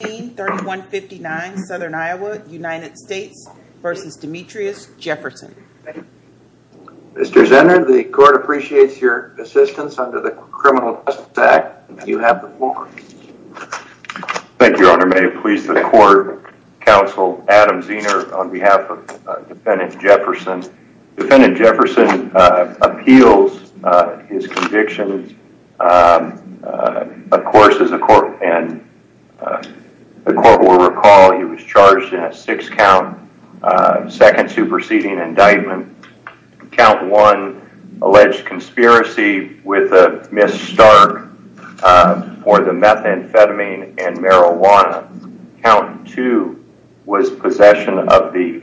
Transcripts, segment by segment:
Mr. Zenner, the court appreciates your assistance under the Criminal Justice Act. You have the floor. Thank you, Your Honor. May it please the court, counsel Adam Zenner on behalf of Defendant Jefferson appeals his conviction. Of course, as the court will recall, he was charged in a six count, second superseding indictment. Count one alleged conspiracy with Ms. Stark for the methamphetamine and marijuana. Count two was possession of the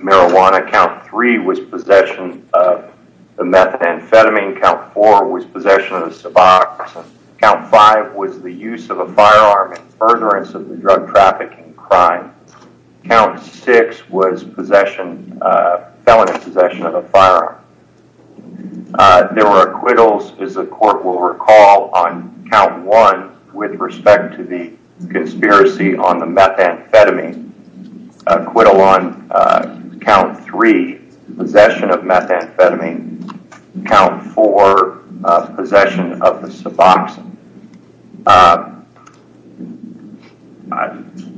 marijuana. Count three was possession of the methamphetamine. Count four was possession of the suboxone. Count five was the use of a firearm in furtherance of the drug trafficking crime. Count six was possession, felony possession of a firearm. There were acquittals, as the court will recall, on count one with respect to the conspiracy on the methamphetamine. Acquittal on count three, possession of methamphetamine. Count four, possession of the suboxone.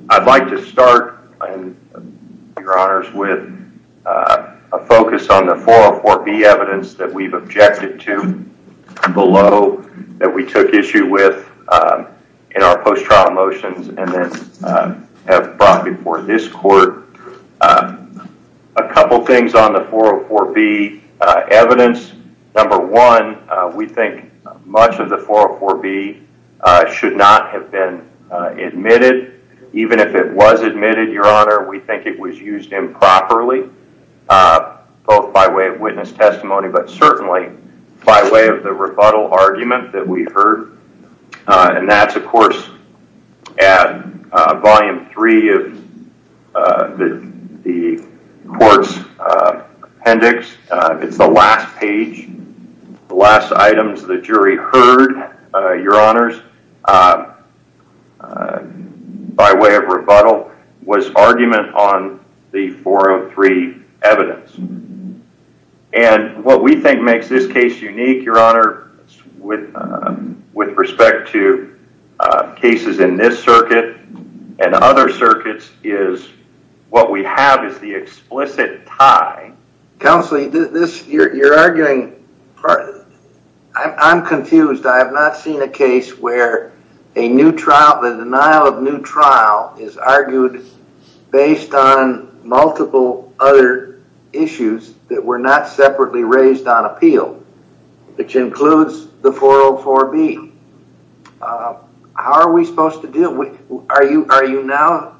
I'd like to start, Your Honors, with a focus on the 404B evidence that we've objected to below that we took issue with in our post-trial motions and then have brought before this court. A couple things on the 404B evidence. Number one, we think much of the 404B should not have been admitted. Even if it was admitted, Your Honor, we think it was used improperly, both by way of witness testimony, but certainly by way of the rebuttal argument that we found in 403 of the court's appendix. It's the last page, the last items the jury heard, Your Honors, by way of rebuttal was argument on the 403 evidence. And what we think makes this case unique, Your Honor, with respect to cases in this circuit and other circuits is what we have is the explicit tie. Counselee, you're arguing... I'm confused. I have not seen a case where a new trial, the denial of new trial is argued based on multiple other issues that were not separately raised on appeal, which includes the 404B. How are we supposed to deal? Are you now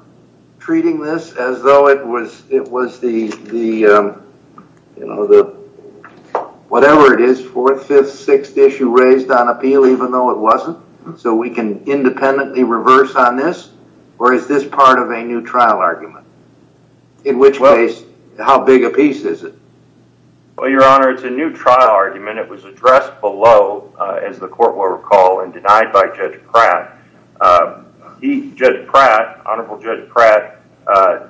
treating this as though it was the, you know, the whatever it is, fourth, fifth, sixth issue raised on appeal, even though it wasn't, so we can independently reverse on this? Or is this part of a new trial argument? In which case, how big a piece is it? Well, Your Honor, it's a new trial argument. It was addressed below, as the court will recall, and denied by Judge Pratt. He, Judge Pratt, Honorable Judge Pratt,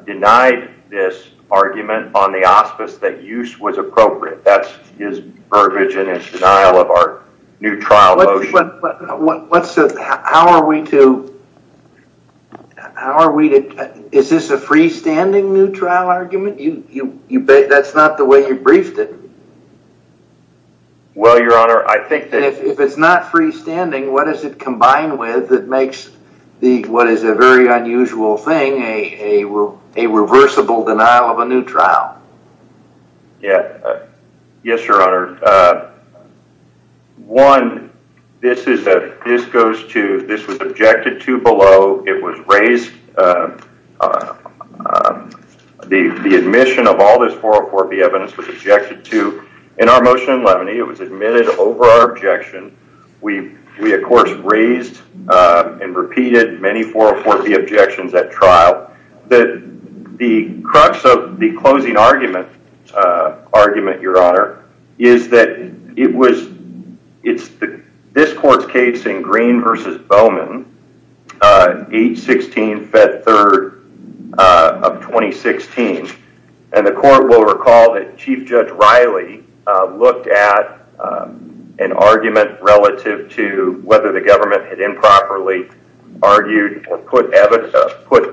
denied this argument on the auspice that use was appropriate. That's his verbiage and his denial of new trial motion. How are we to... Is this a freestanding new trial argument? That's not the way you briefed it. Well, Your Honor, I think that... If it's not freestanding, what does it combine with that makes what is a very unusual thing a reversible denial of a new trial? Yeah. Yes, Your Honor. One, this is a... This goes to... This was objected to below. It was raised... The admission of all this 404B evidence was objected to. In our motion in Lemony, it was admitted over our objection. We, of course, raised and repeated many 404B objections at trial. The crux of the closing argument, Your Honor, is that it was... It's this court's case in Green versus Bowman, 8-16, Fed Third of 2016. The court will recall that Chief Judge Riley looked at an argument relative to whether the government had improperly argued or put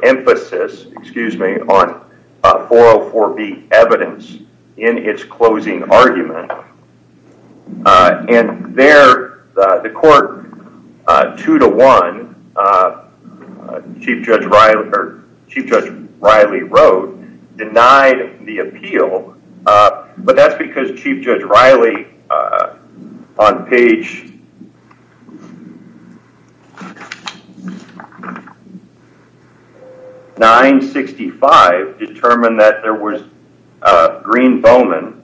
emphasis, excuse me, on 404B evidence in its closing argument. There, the court, 2-1, Chief Judge Riley wrote, denied the appeal, but that's because Chief Judge Riley, on page 965, determined that there was... Green-Bowman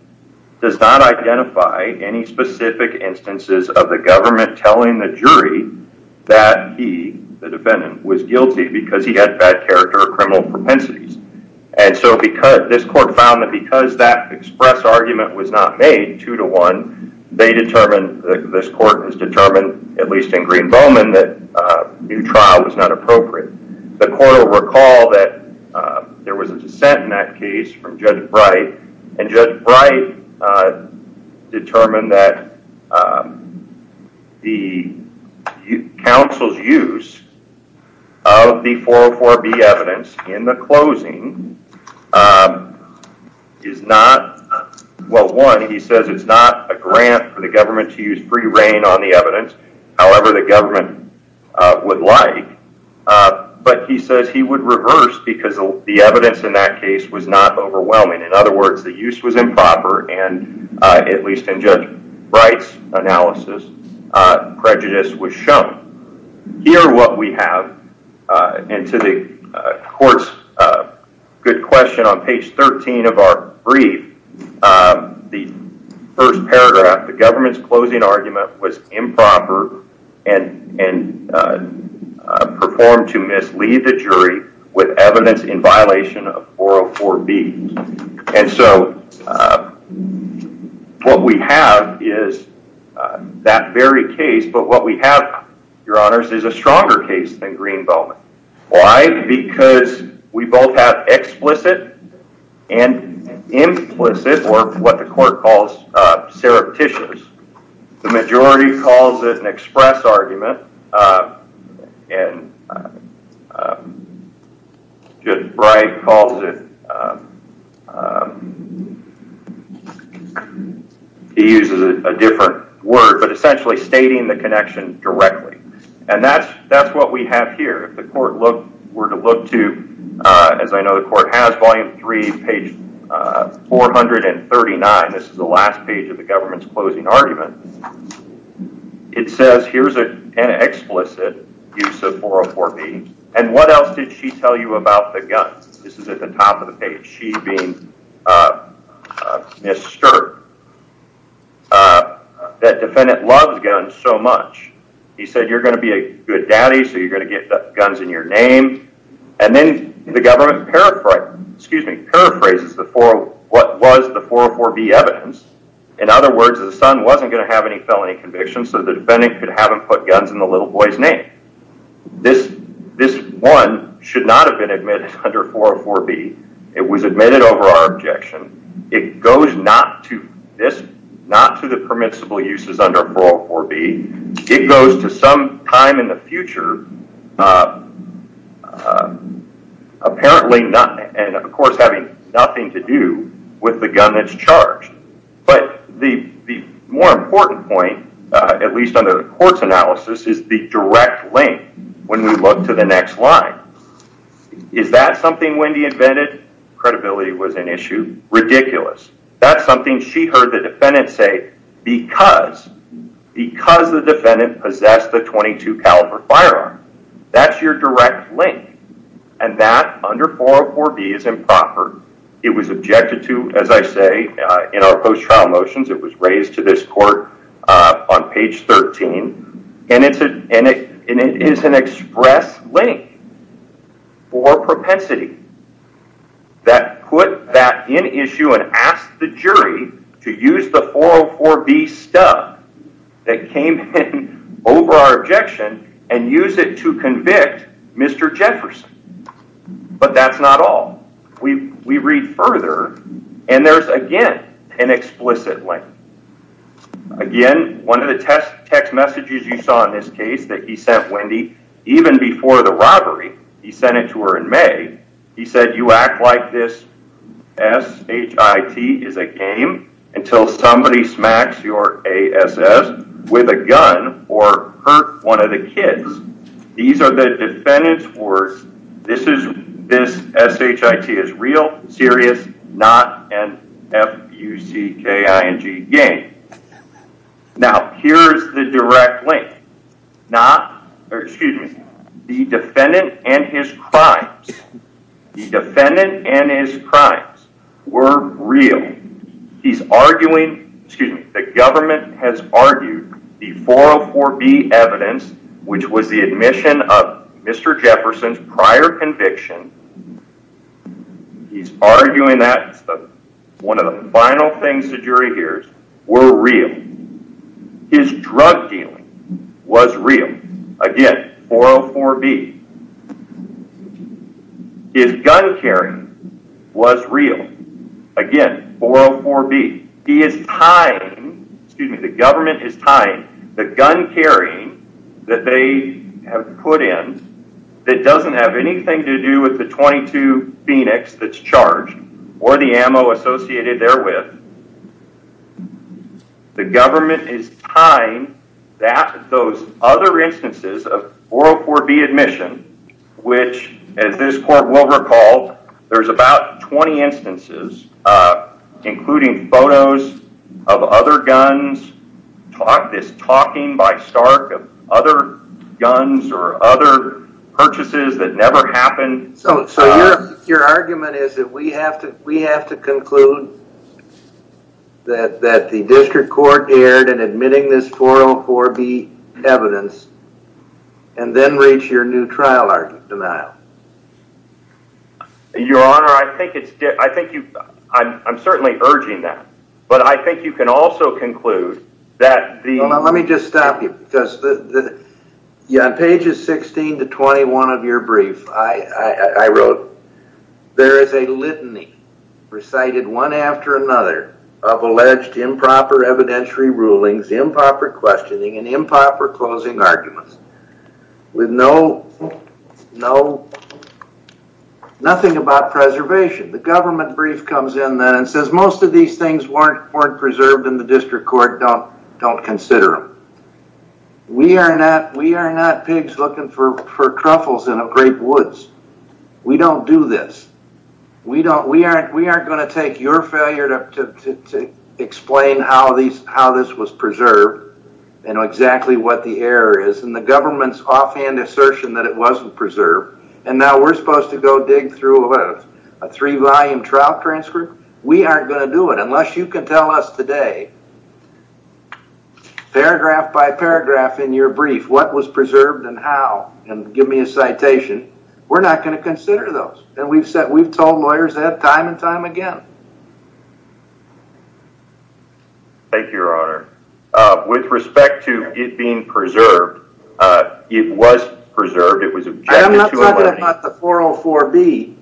does not identify any specific instances of the government telling the jury that he, the defendant, was guilty because he had bad criminal propensities. This court found that because that express argument was not made, 2-1, they determined, this court has determined, at least in Green-Bowman, that new trial was not appropriate. The court will recall that there was a dissent in that case from Judge Bright, and Judge Bright determined that the counsel's use of the 404B evidence in the closing is not... Well, one, he says it's not a grant for the government to use free reign on the evidence, however the government would like, but he says he would reverse because the evidence in that overwhelming. In other words, the use was improper, and at least in Judge Bright's analysis, prejudice was shown. Here, what we have, and to the court's good question, on page 13 of our brief, the first paragraph, the government's closing argument was improper and performed to mislead the jury with evidence in violation of 404B, and so what we have is that very case, but what we have, your honors, is a stronger case than Green-Bowman. Why? Because we both have explicit and implicit, or what the court calls surreptitious. The majority calls it an express argument, and Judge Bright calls it... He uses a different word, but essentially stating the connection directly, and that's what we have here. If the court were to look to, as I know the court has, volume three, page 439, this is the last page of the government's closing argument, it says here's an explicit use of 404B, and what else did she tell you about the gun? This is at the top of the page. She being disturbed that defendant loves guns so much. He said, you're going to be a good daddy, so you're going to get guns in your name, and then the government paraphrases what was the 404B evidence. In other words, the son wasn't going to have a gun, so the defendant could have him put guns in the little boy's name. This one should not have been admitted under 404B. It was admitted over our objection. It goes not to the permissible uses under 404B. It goes to some time in the future, apparently not, and of course having nothing to do with the gun that's charged, but the more important point, at least under the court's analysis, is the direct link when we look to the next line. Is that something Wendy invented? Credibility was an issue. Ridiculous. That's something she heard the defendant say because the defendant possessed the .22 caliber firearm. That's your direct link, and that under 404B is improper. It was objected to, as I say, in our post-trial motions. It was raised to this court on page 13, and it is an express link for propensity that put that in issue and asked the jury to use the 404B stuff that came in over our objection and use it to convict Mr. Jefferson, but that's not all. We read further, and there's, again, an explicit link. Again, one of the text messages you saw in this case that he sent Wendy even before the robbery, he sent it to her in May. He said, you act like this S-H-I-T is a game until somebody smacks your with a gun or hurt one of the kids. These are the defendant's words. This S-H-I-T is real, serious, not an F-U-C-K-I-N-G game. Now, here's the direct link. The defendant and his crimes were real. He's arguing, excuse me, the government has argued the 404B evidence, which was the admission of Mr. Jefferson's prior conviction. He's arguing that one of the final things the jury hears were real. His drug dealing was real. Again, 404B. His gun carrying was real. Again, 404B. He is tying, excuse me, the government is tying the gun carrying that they have put in that doesn't have anything to do with the 22 Phoenix that's charged or the ammo associated there with. The government is tying those other instances of 404B admission, which as this court will recall, there's about 20 instances, including photos of other guns, this talking by Stark of other guns or other purchases that never happened. So your argument is that we have to conclude that the district court erred in admitting this 404B evidence and then reach your new trial denial. Your Honor, I'm certainly urging that, but I think you can also conclude that the... Let me just stop you because on pages 16 to 21 of your brief, I wrote, there is a litany recited one after another of alleged improper evidentiary rulings, improper questioning, and improper closing arguments with nothing about preservation. The government brief comes in then and says most of these things weren't preserved in the district court, don't consider them. We are not pigs looking for truffles in a great woods. We don't do this. We aren't going to take your failure to explain how this was preserved and exactly what the error is and the government's offhand assertion that it wasn't preserved and now we're supposed to go dig through a three-volume trial transcript. We aren't going to do it unless you can tell us today, paragraph by paragraph in your brief, what was preserved and how and give me a citation. We're not going to consider those and we've told lawyers that time and time again. Thank you, Your Honor. With respect to it being preserved, it was preserved. It was preserved. I'm not talking about the 404B.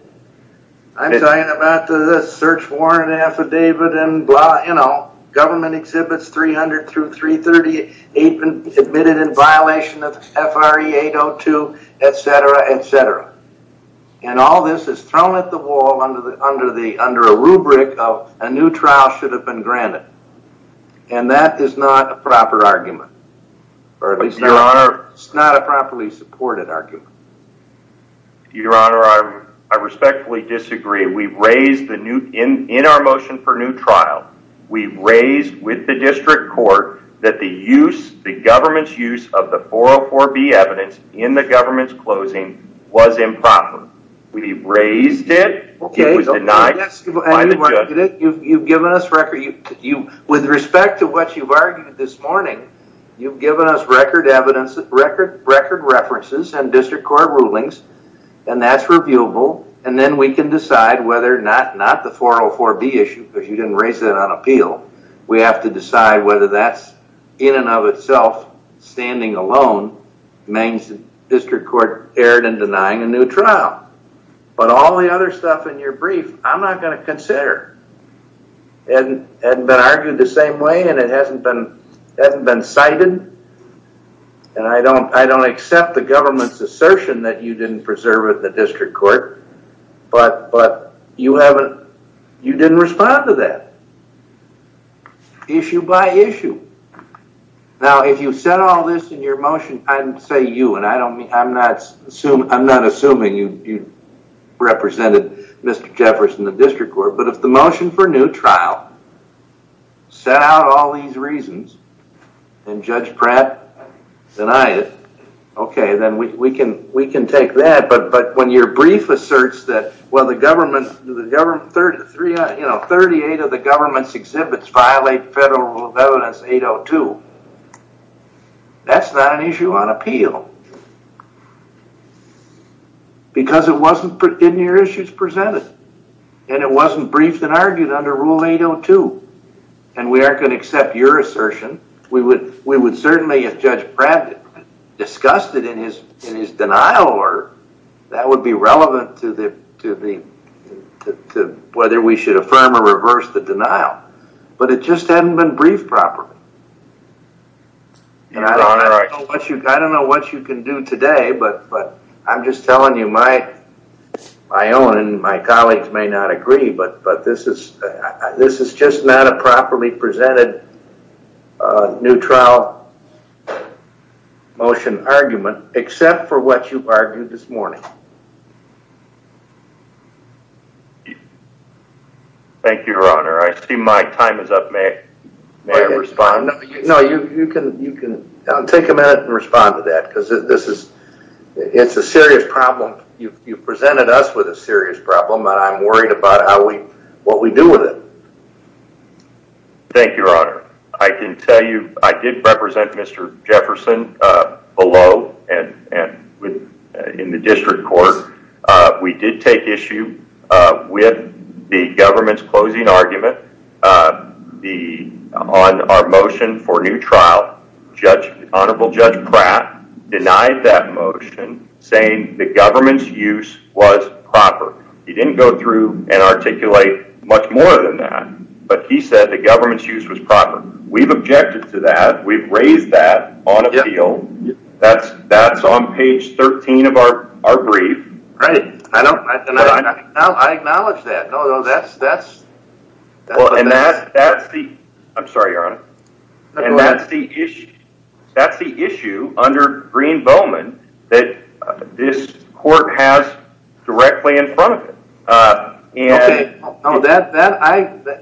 I'm talking about the search warrant affidavit and blah, you know, government exhibits 300 through 338 admitted in violation of FRE802, etc., etc. All this is thrown at the wall under a rubric of a new trial should have been granted. That is not a proper argument. It's not a properly supported argument. Your Honor, I respectfully disagree. We raised in our motion for new trial, we raised with the district court that the use, the government's use of the 404B evidence in the government's closing was improper. We raised it. It was denied by the judge. You've given us record, with respect to what you've argued this morning, you've given us record evidence, record references and district court rulings, and that's reviewable, and then we can decide whether or not, not the 404B issue, because you didn't raise that on appeal. We have to decide whether that's in and of itself standing alone means the district court erred in denying a new trial. But all the other stuff in your brief, I'm not going to consider. It hasn't been argued the same way and it hasn't been cited, and I don't accept the government's assertion that you didn't preserve it in the district court, but you didn't respond to that. Issue by issue. Now, if you've said all this in your motion, I'm saying you, and I'm not assuming you represented Mr. Jefferson in the district court, but if the motion for new trial set out all these reasons and Judge Pratt denied it, okay, then we can take that, but when your brief asserts that, well, the government, 38 of the government's exhibits violate federal rule of evidence 802, that's not an issue on appeal, because it wasn't in your issues presented, and it wasn't briefed and argued under rule 802, and we aren't going to accept your assertion. We would certainly, if Judge Pratt discussed it in his denial, that would be relevant to whether we should affirm or reverse the denial, but it just today, but I'm just telling you my own and my colleagues may not agree, but this is just not a properly presented new trial motion argument, except for what you argued this morning. Thank you, your honor. I see my time is up. May I respond? No, you can take a minute and respond to that, because it's a serious problem. You've presented us with a serious problem, and I'm worried about what we do with it. Thank you, your honor. I can tell you I did represent Mr. Jefferson below and in the district court. We did take issue with the government's closing argument on our motion for new trial. Honorable Judge Pratt denied that motion, saying the government's use was proper. He didn't go through and articulate much more than that, but he said the government's use was proper. We've objected to that. We've I acknowledge that. That's the issue under Green-Bowman that this court has directly in front of it.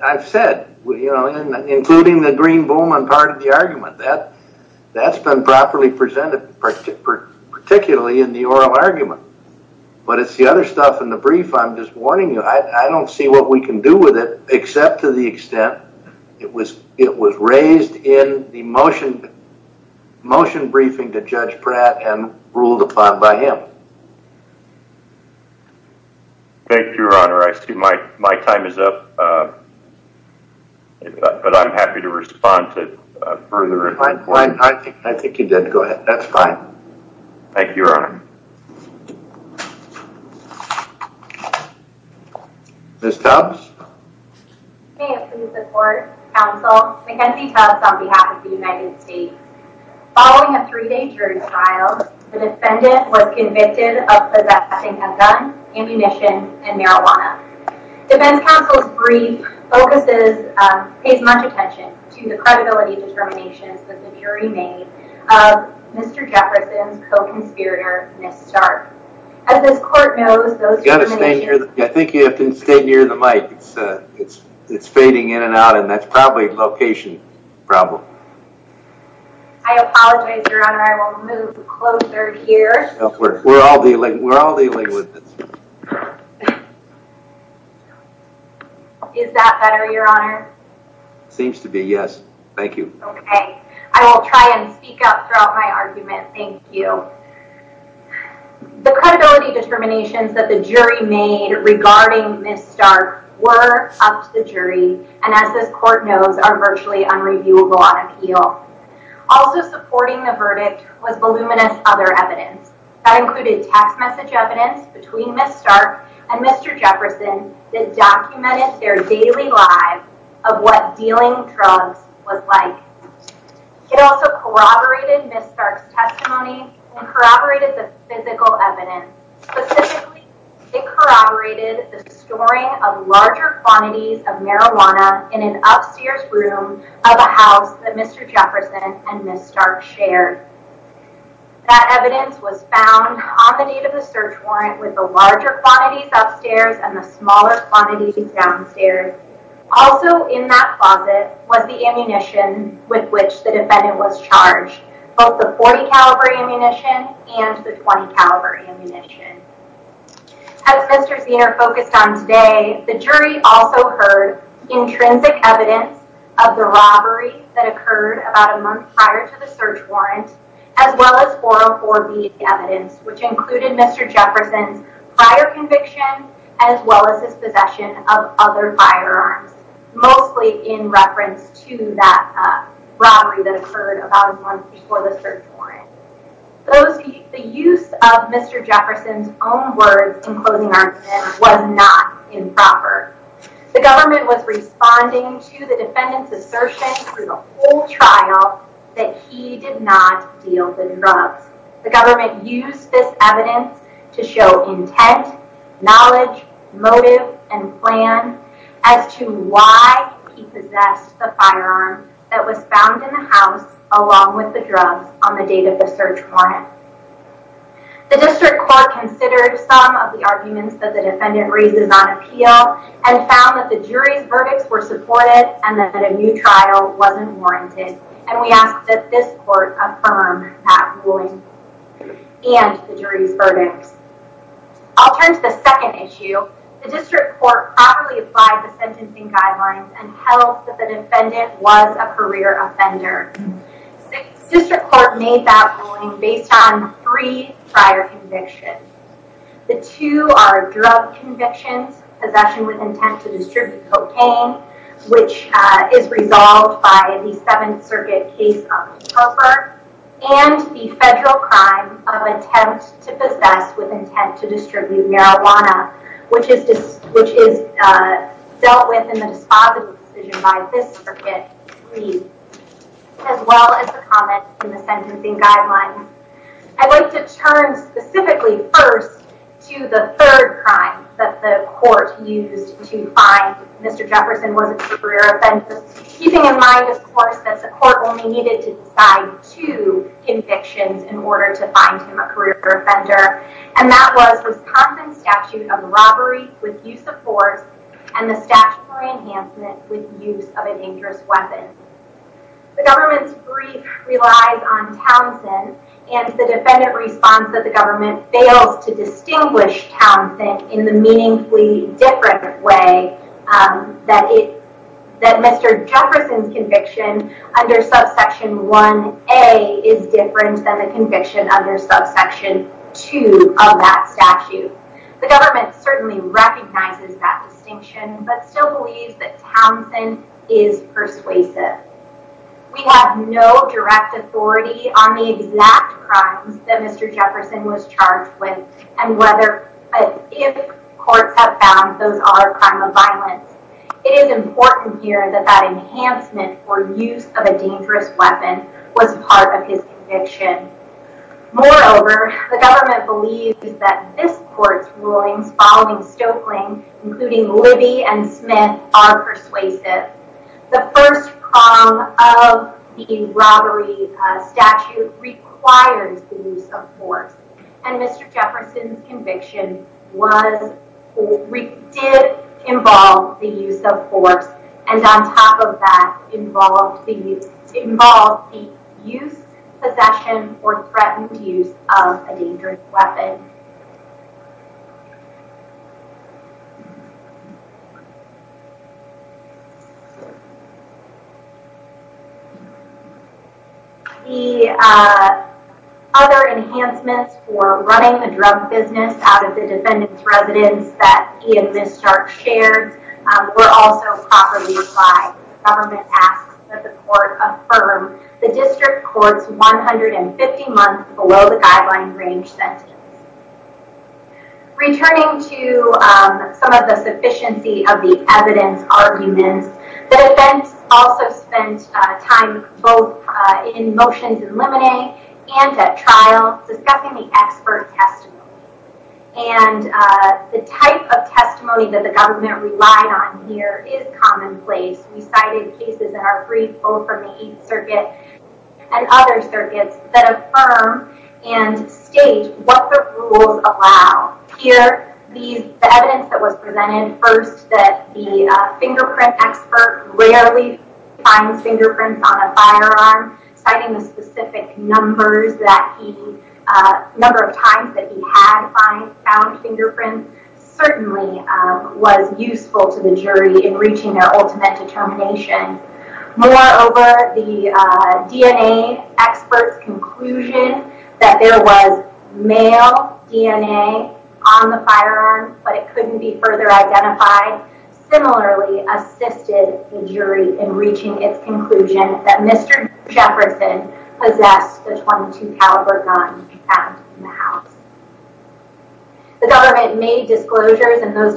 I've said, including the Green-Bowman part of the argument, that's been properly presented, particularly in the oral argument, but it's the other stuff in the brief I'm just warning you. I don't see what we can do with it, except to the extent it was raised in the motion briefing to Judge Pratt and ruled upon by him. Thank you, your honor. I see my time is up, but I'm happy to respond to further. I think you did. Go ahead. That's fine. Thank you, your honor. Ms. Tubbs? May it please the court, counsel, Mackenzie Tubbs on behalf of the United States. Following a three-day jury trial, the defendant was convicted of possessing a gun, ammunition, and marijuana. Defense counsel's brief pays much attention to the credibility determinations that the jury made of Mr. Jefferson's co-conspirator, Ms. Stark. I think you have to stay near the mic. It's fading in and out, and that's probably a location problem. I apologize, your honor. I will move closer here. We're all dealing with this. Is that better, your honor? Seems to be, yes. Thank you. Okay. I will try and speak up throughout my argument. Thank you. The credibility determinations that the jury made regarding Ms. Stark were up to the jury, and as this court knows, are virtually unreviewable on appeal. Also supporting the verdict was voluminous other evidence that included text message evidence between Ms. Stark and Mr. Jefferson that documented their daily lives of what dealing drugs was like. It also corroborated Ms. Stark's testimony and corroborated the physical evidence. Specifically, it corroborated the storing of larger quantities of marijuana in an upstairs room of a house that Mr. Jefferson and Ms. Stark shared. That evidence was found on the date of the search warrant with the larger quantities upstairs and the smaller quantities downstairs. Also in that closet was the ammunition with which the defendant was charged, both the .40 caliber ammunition and the .20 caliber ammunition. As Mr. Zenor focused on today, the jury also heard intrinsic evidence of the robbery that occurred about a month prior to the search warrant, as well as 404B evidence, which included Mr. Jefferson's prior conviction, as well as his possession of other firearms, mostly in reference to that robbery that occurred about a month before the search warrant. The use of Mr. Jefferson's own words in closing arguments was not improper. The government was responding to the defendant's assertion through the whole trial that he did not deal the drugs. The government used this evidence to show intent, knowledge, motive, and plan as to why he possessed the firearm that was found in the house along with the drugs on the date of the search warrant. The district court considered some of the arguments that the defendant raises on appeal and found that the jury's verdicts were supported and that a new trial wasn't warranted, and we ask that this court affirm that ruling and the jury's verdicts. I'll turn to the second issue. The district court properly applied the sentencing guidelines and held that the defendant was a career offender. The district court made that ruling based on three prior convictions. The two are drug convictions, possession with intent to distribute cocaine, which is resolved by the Seventh Circuit case of Propper, and the federal crime of attempt to possess with intent to distribute marijuana, which is dealt with in the dispositive decision by this circuit, as well as the comments in the sentencing guidelines. I'd like to turn specifically first to the third crime that the court used to find Mr. Jefferson was a career offender, keeping in mind, of course, that the court only needed to with use of force and the statutory enhancement with use of an injurious weapon. The government's brief relies on Townsend and the defendant responds that the government fails to distinguish Townsend in the meaningfully different way that Mr. Jefferson's conviction under subsection 1A is different than the conviction under subsection 2 of that statute. The government certainly recognizes that distinction, but still believes that Townsend is persuasive. We have no direct authority on the exact crimes that Mr. Jefferson was charged with and whether or if courts have found those are crime of violence. It is important here that that enhancement or use of a dangerous weapon was part of his conviction. Moreover, the government believes that this court's rulings following Stoeckling, including Libby and Smith, are persuasive. The first crime of the robbery statute requires the use of force and Mr. Jefferson's conviction did involve the use of force and on top of that involved the use possession or threatened use of a dangerous weapon. The other enhancements for running the drug business out of the defendant's residence that he and Ms. Stark shared were also properly applied. The government asks that the court affirm the district court's 150 month below the guideline range sentence. Returning to some of the sufficiency of the evidence arguments, the defense also spent time both in motions in limine and at trial discussing the expert testimony. And the type of testimony that the government relied on here is commonplace. We cited cases that are free both from the Eighth Circuit and other circuits that affirm and state what the rules allow. Here, the evidence that was presented first that the fingerprint expert rarely finds fingerprints on a firearm, citing the specific numbers that he, number of times that he had found fingerprints certainly was useful to the jury in reaching their ultimate determination. Moreover, the DNA expert's conclusion that there was male DNA on the firearm but it couldn't be further identified similarly assisted the jury in reaching its conclusion that Mr. Jefferson possessed the .22 caliber gun found in the house. The government made disclosures and those documents.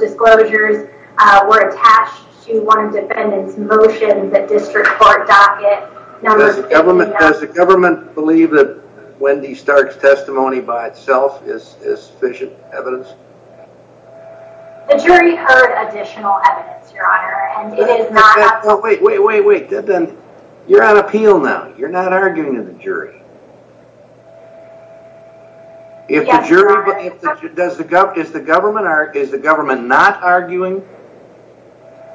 Does the government believe that Wendy Stark's testimony by itself is sufficient evidence? The jury heard additional evidence, your honor, and it is not. No, wait, wait, wait, wait. You're on appeal now. You're not arguing to the jury. If the jury, does the government, is the government not arguing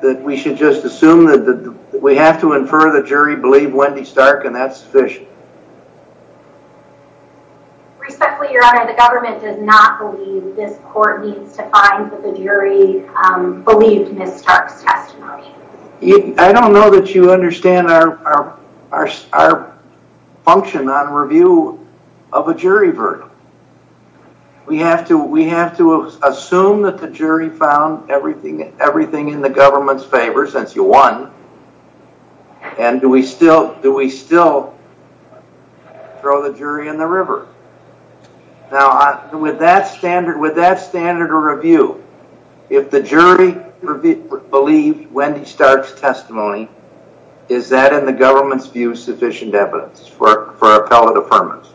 that we should just assume that we have to infer the jury believe Wendy Stark and that's sufficient? Respectfully, your honor, the government does not believe this court needs to find that the jury believed Ms. Stark's testimony. I don't know that you understand our function on review of a jury verdict. We have to assume that the jury found everything in the government's favor since you won and do we still throw the jury in the river? Now, with that standard of review, if the jury believed Wendy Stark's testimony, is that in the government's view sufficient evidence for appellate affirmance?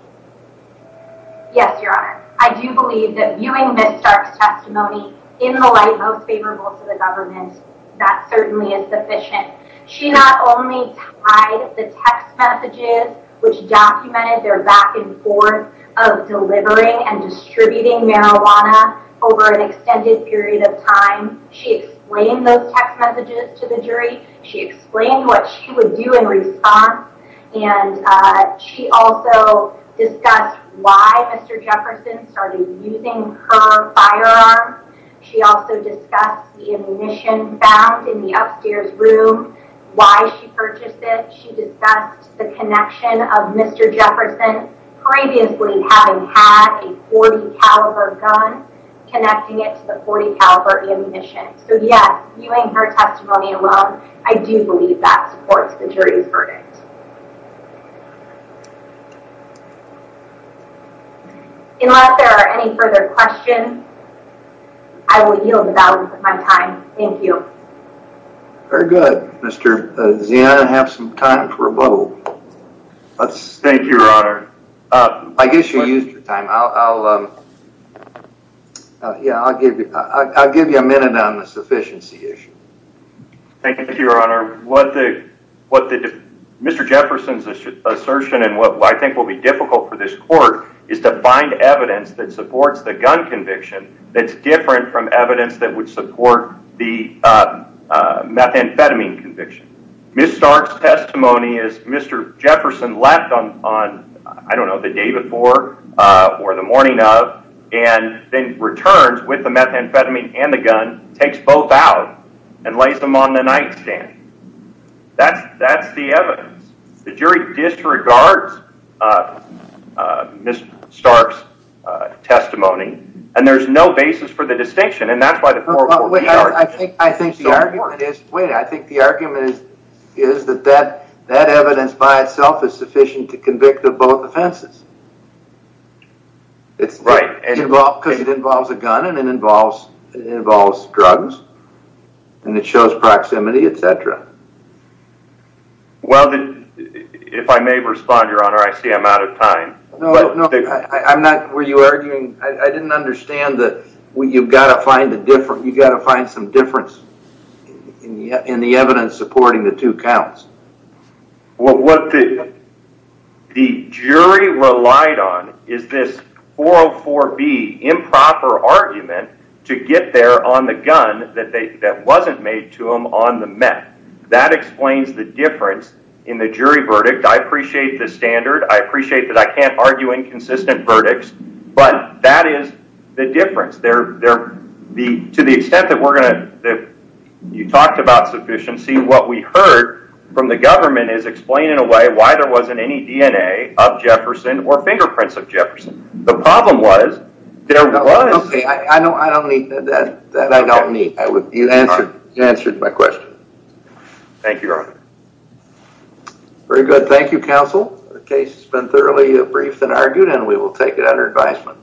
Yes, your honor. I do believe that viewing Ms. Stark's testimony in the light most favorable to the government, that certainly is sufficient. She not only tied the text messages, which documented their back and forth of delivering and distributing marijuana over an extended period of time. She explained those text messages to the jury. She explained what she would do in response and she also discussed why Mr. Jefferson started using her firearms. She also discussed the ammunition found in the upstairs room, why she purchased it. She discussed the connection of Mr. Jefferson previously having had a 40 caliber gun connecting it to the 40 caliber ammunition. So yes, viewing her testimony alone, I do believe that supports the jury's verdict. Unless there are any further questions, I will yield the balance of my time. Thank you. Very good. Mr. Zianna, you have some time for a vote. Thank you, your honor. I guess you used your time. I'll give you a minute on the sufficiency issue. Thank you, your honor. Mr. Jefferson's assertion and what I think will be difficult for this court is to find evidence that supports the gun conviction that's different from evidence that would support the methamphetamine conviction. Ms. Stark's testimony, as Mr. Jefferson left on the day before or the morning of, and then returns with the methamphetamine and the gun, takes both out and lays them on the nightstand. That's the evidence. The jury disregards Ms. Stark's testimony and there's no basis for the distinction and that's why the court will be arguing. I think the argument is that that evidence by itself is sufficient to convict of both offenses. Right. Because it involves a gun and it involves drugs and it shows proximity, etc. If I may respond, your honor, I see I'm out of time. I didn't understand that you've got to find some difference in the evidence supporting the two counts. What the jury relied on is this 404B improper argument to get there on the gun that wasn't made to them on the meth. That explains the difference in the jury verdict. I appreciate the standard. I appreciate that I can't argue inconsistent verdicts, but that is the difference. To the extent that you talked about sufficiency, what we heard from the government is explaining in a way why there wasn't any DNA of Jefferson or fingerprints of Jefferson. The problem was there was... Okay, I don't need that. You answered my question. Thank you, your honor. Very good. Thank you, counsel. The case has been thoroughly briefed and argued and we will take it under advisement.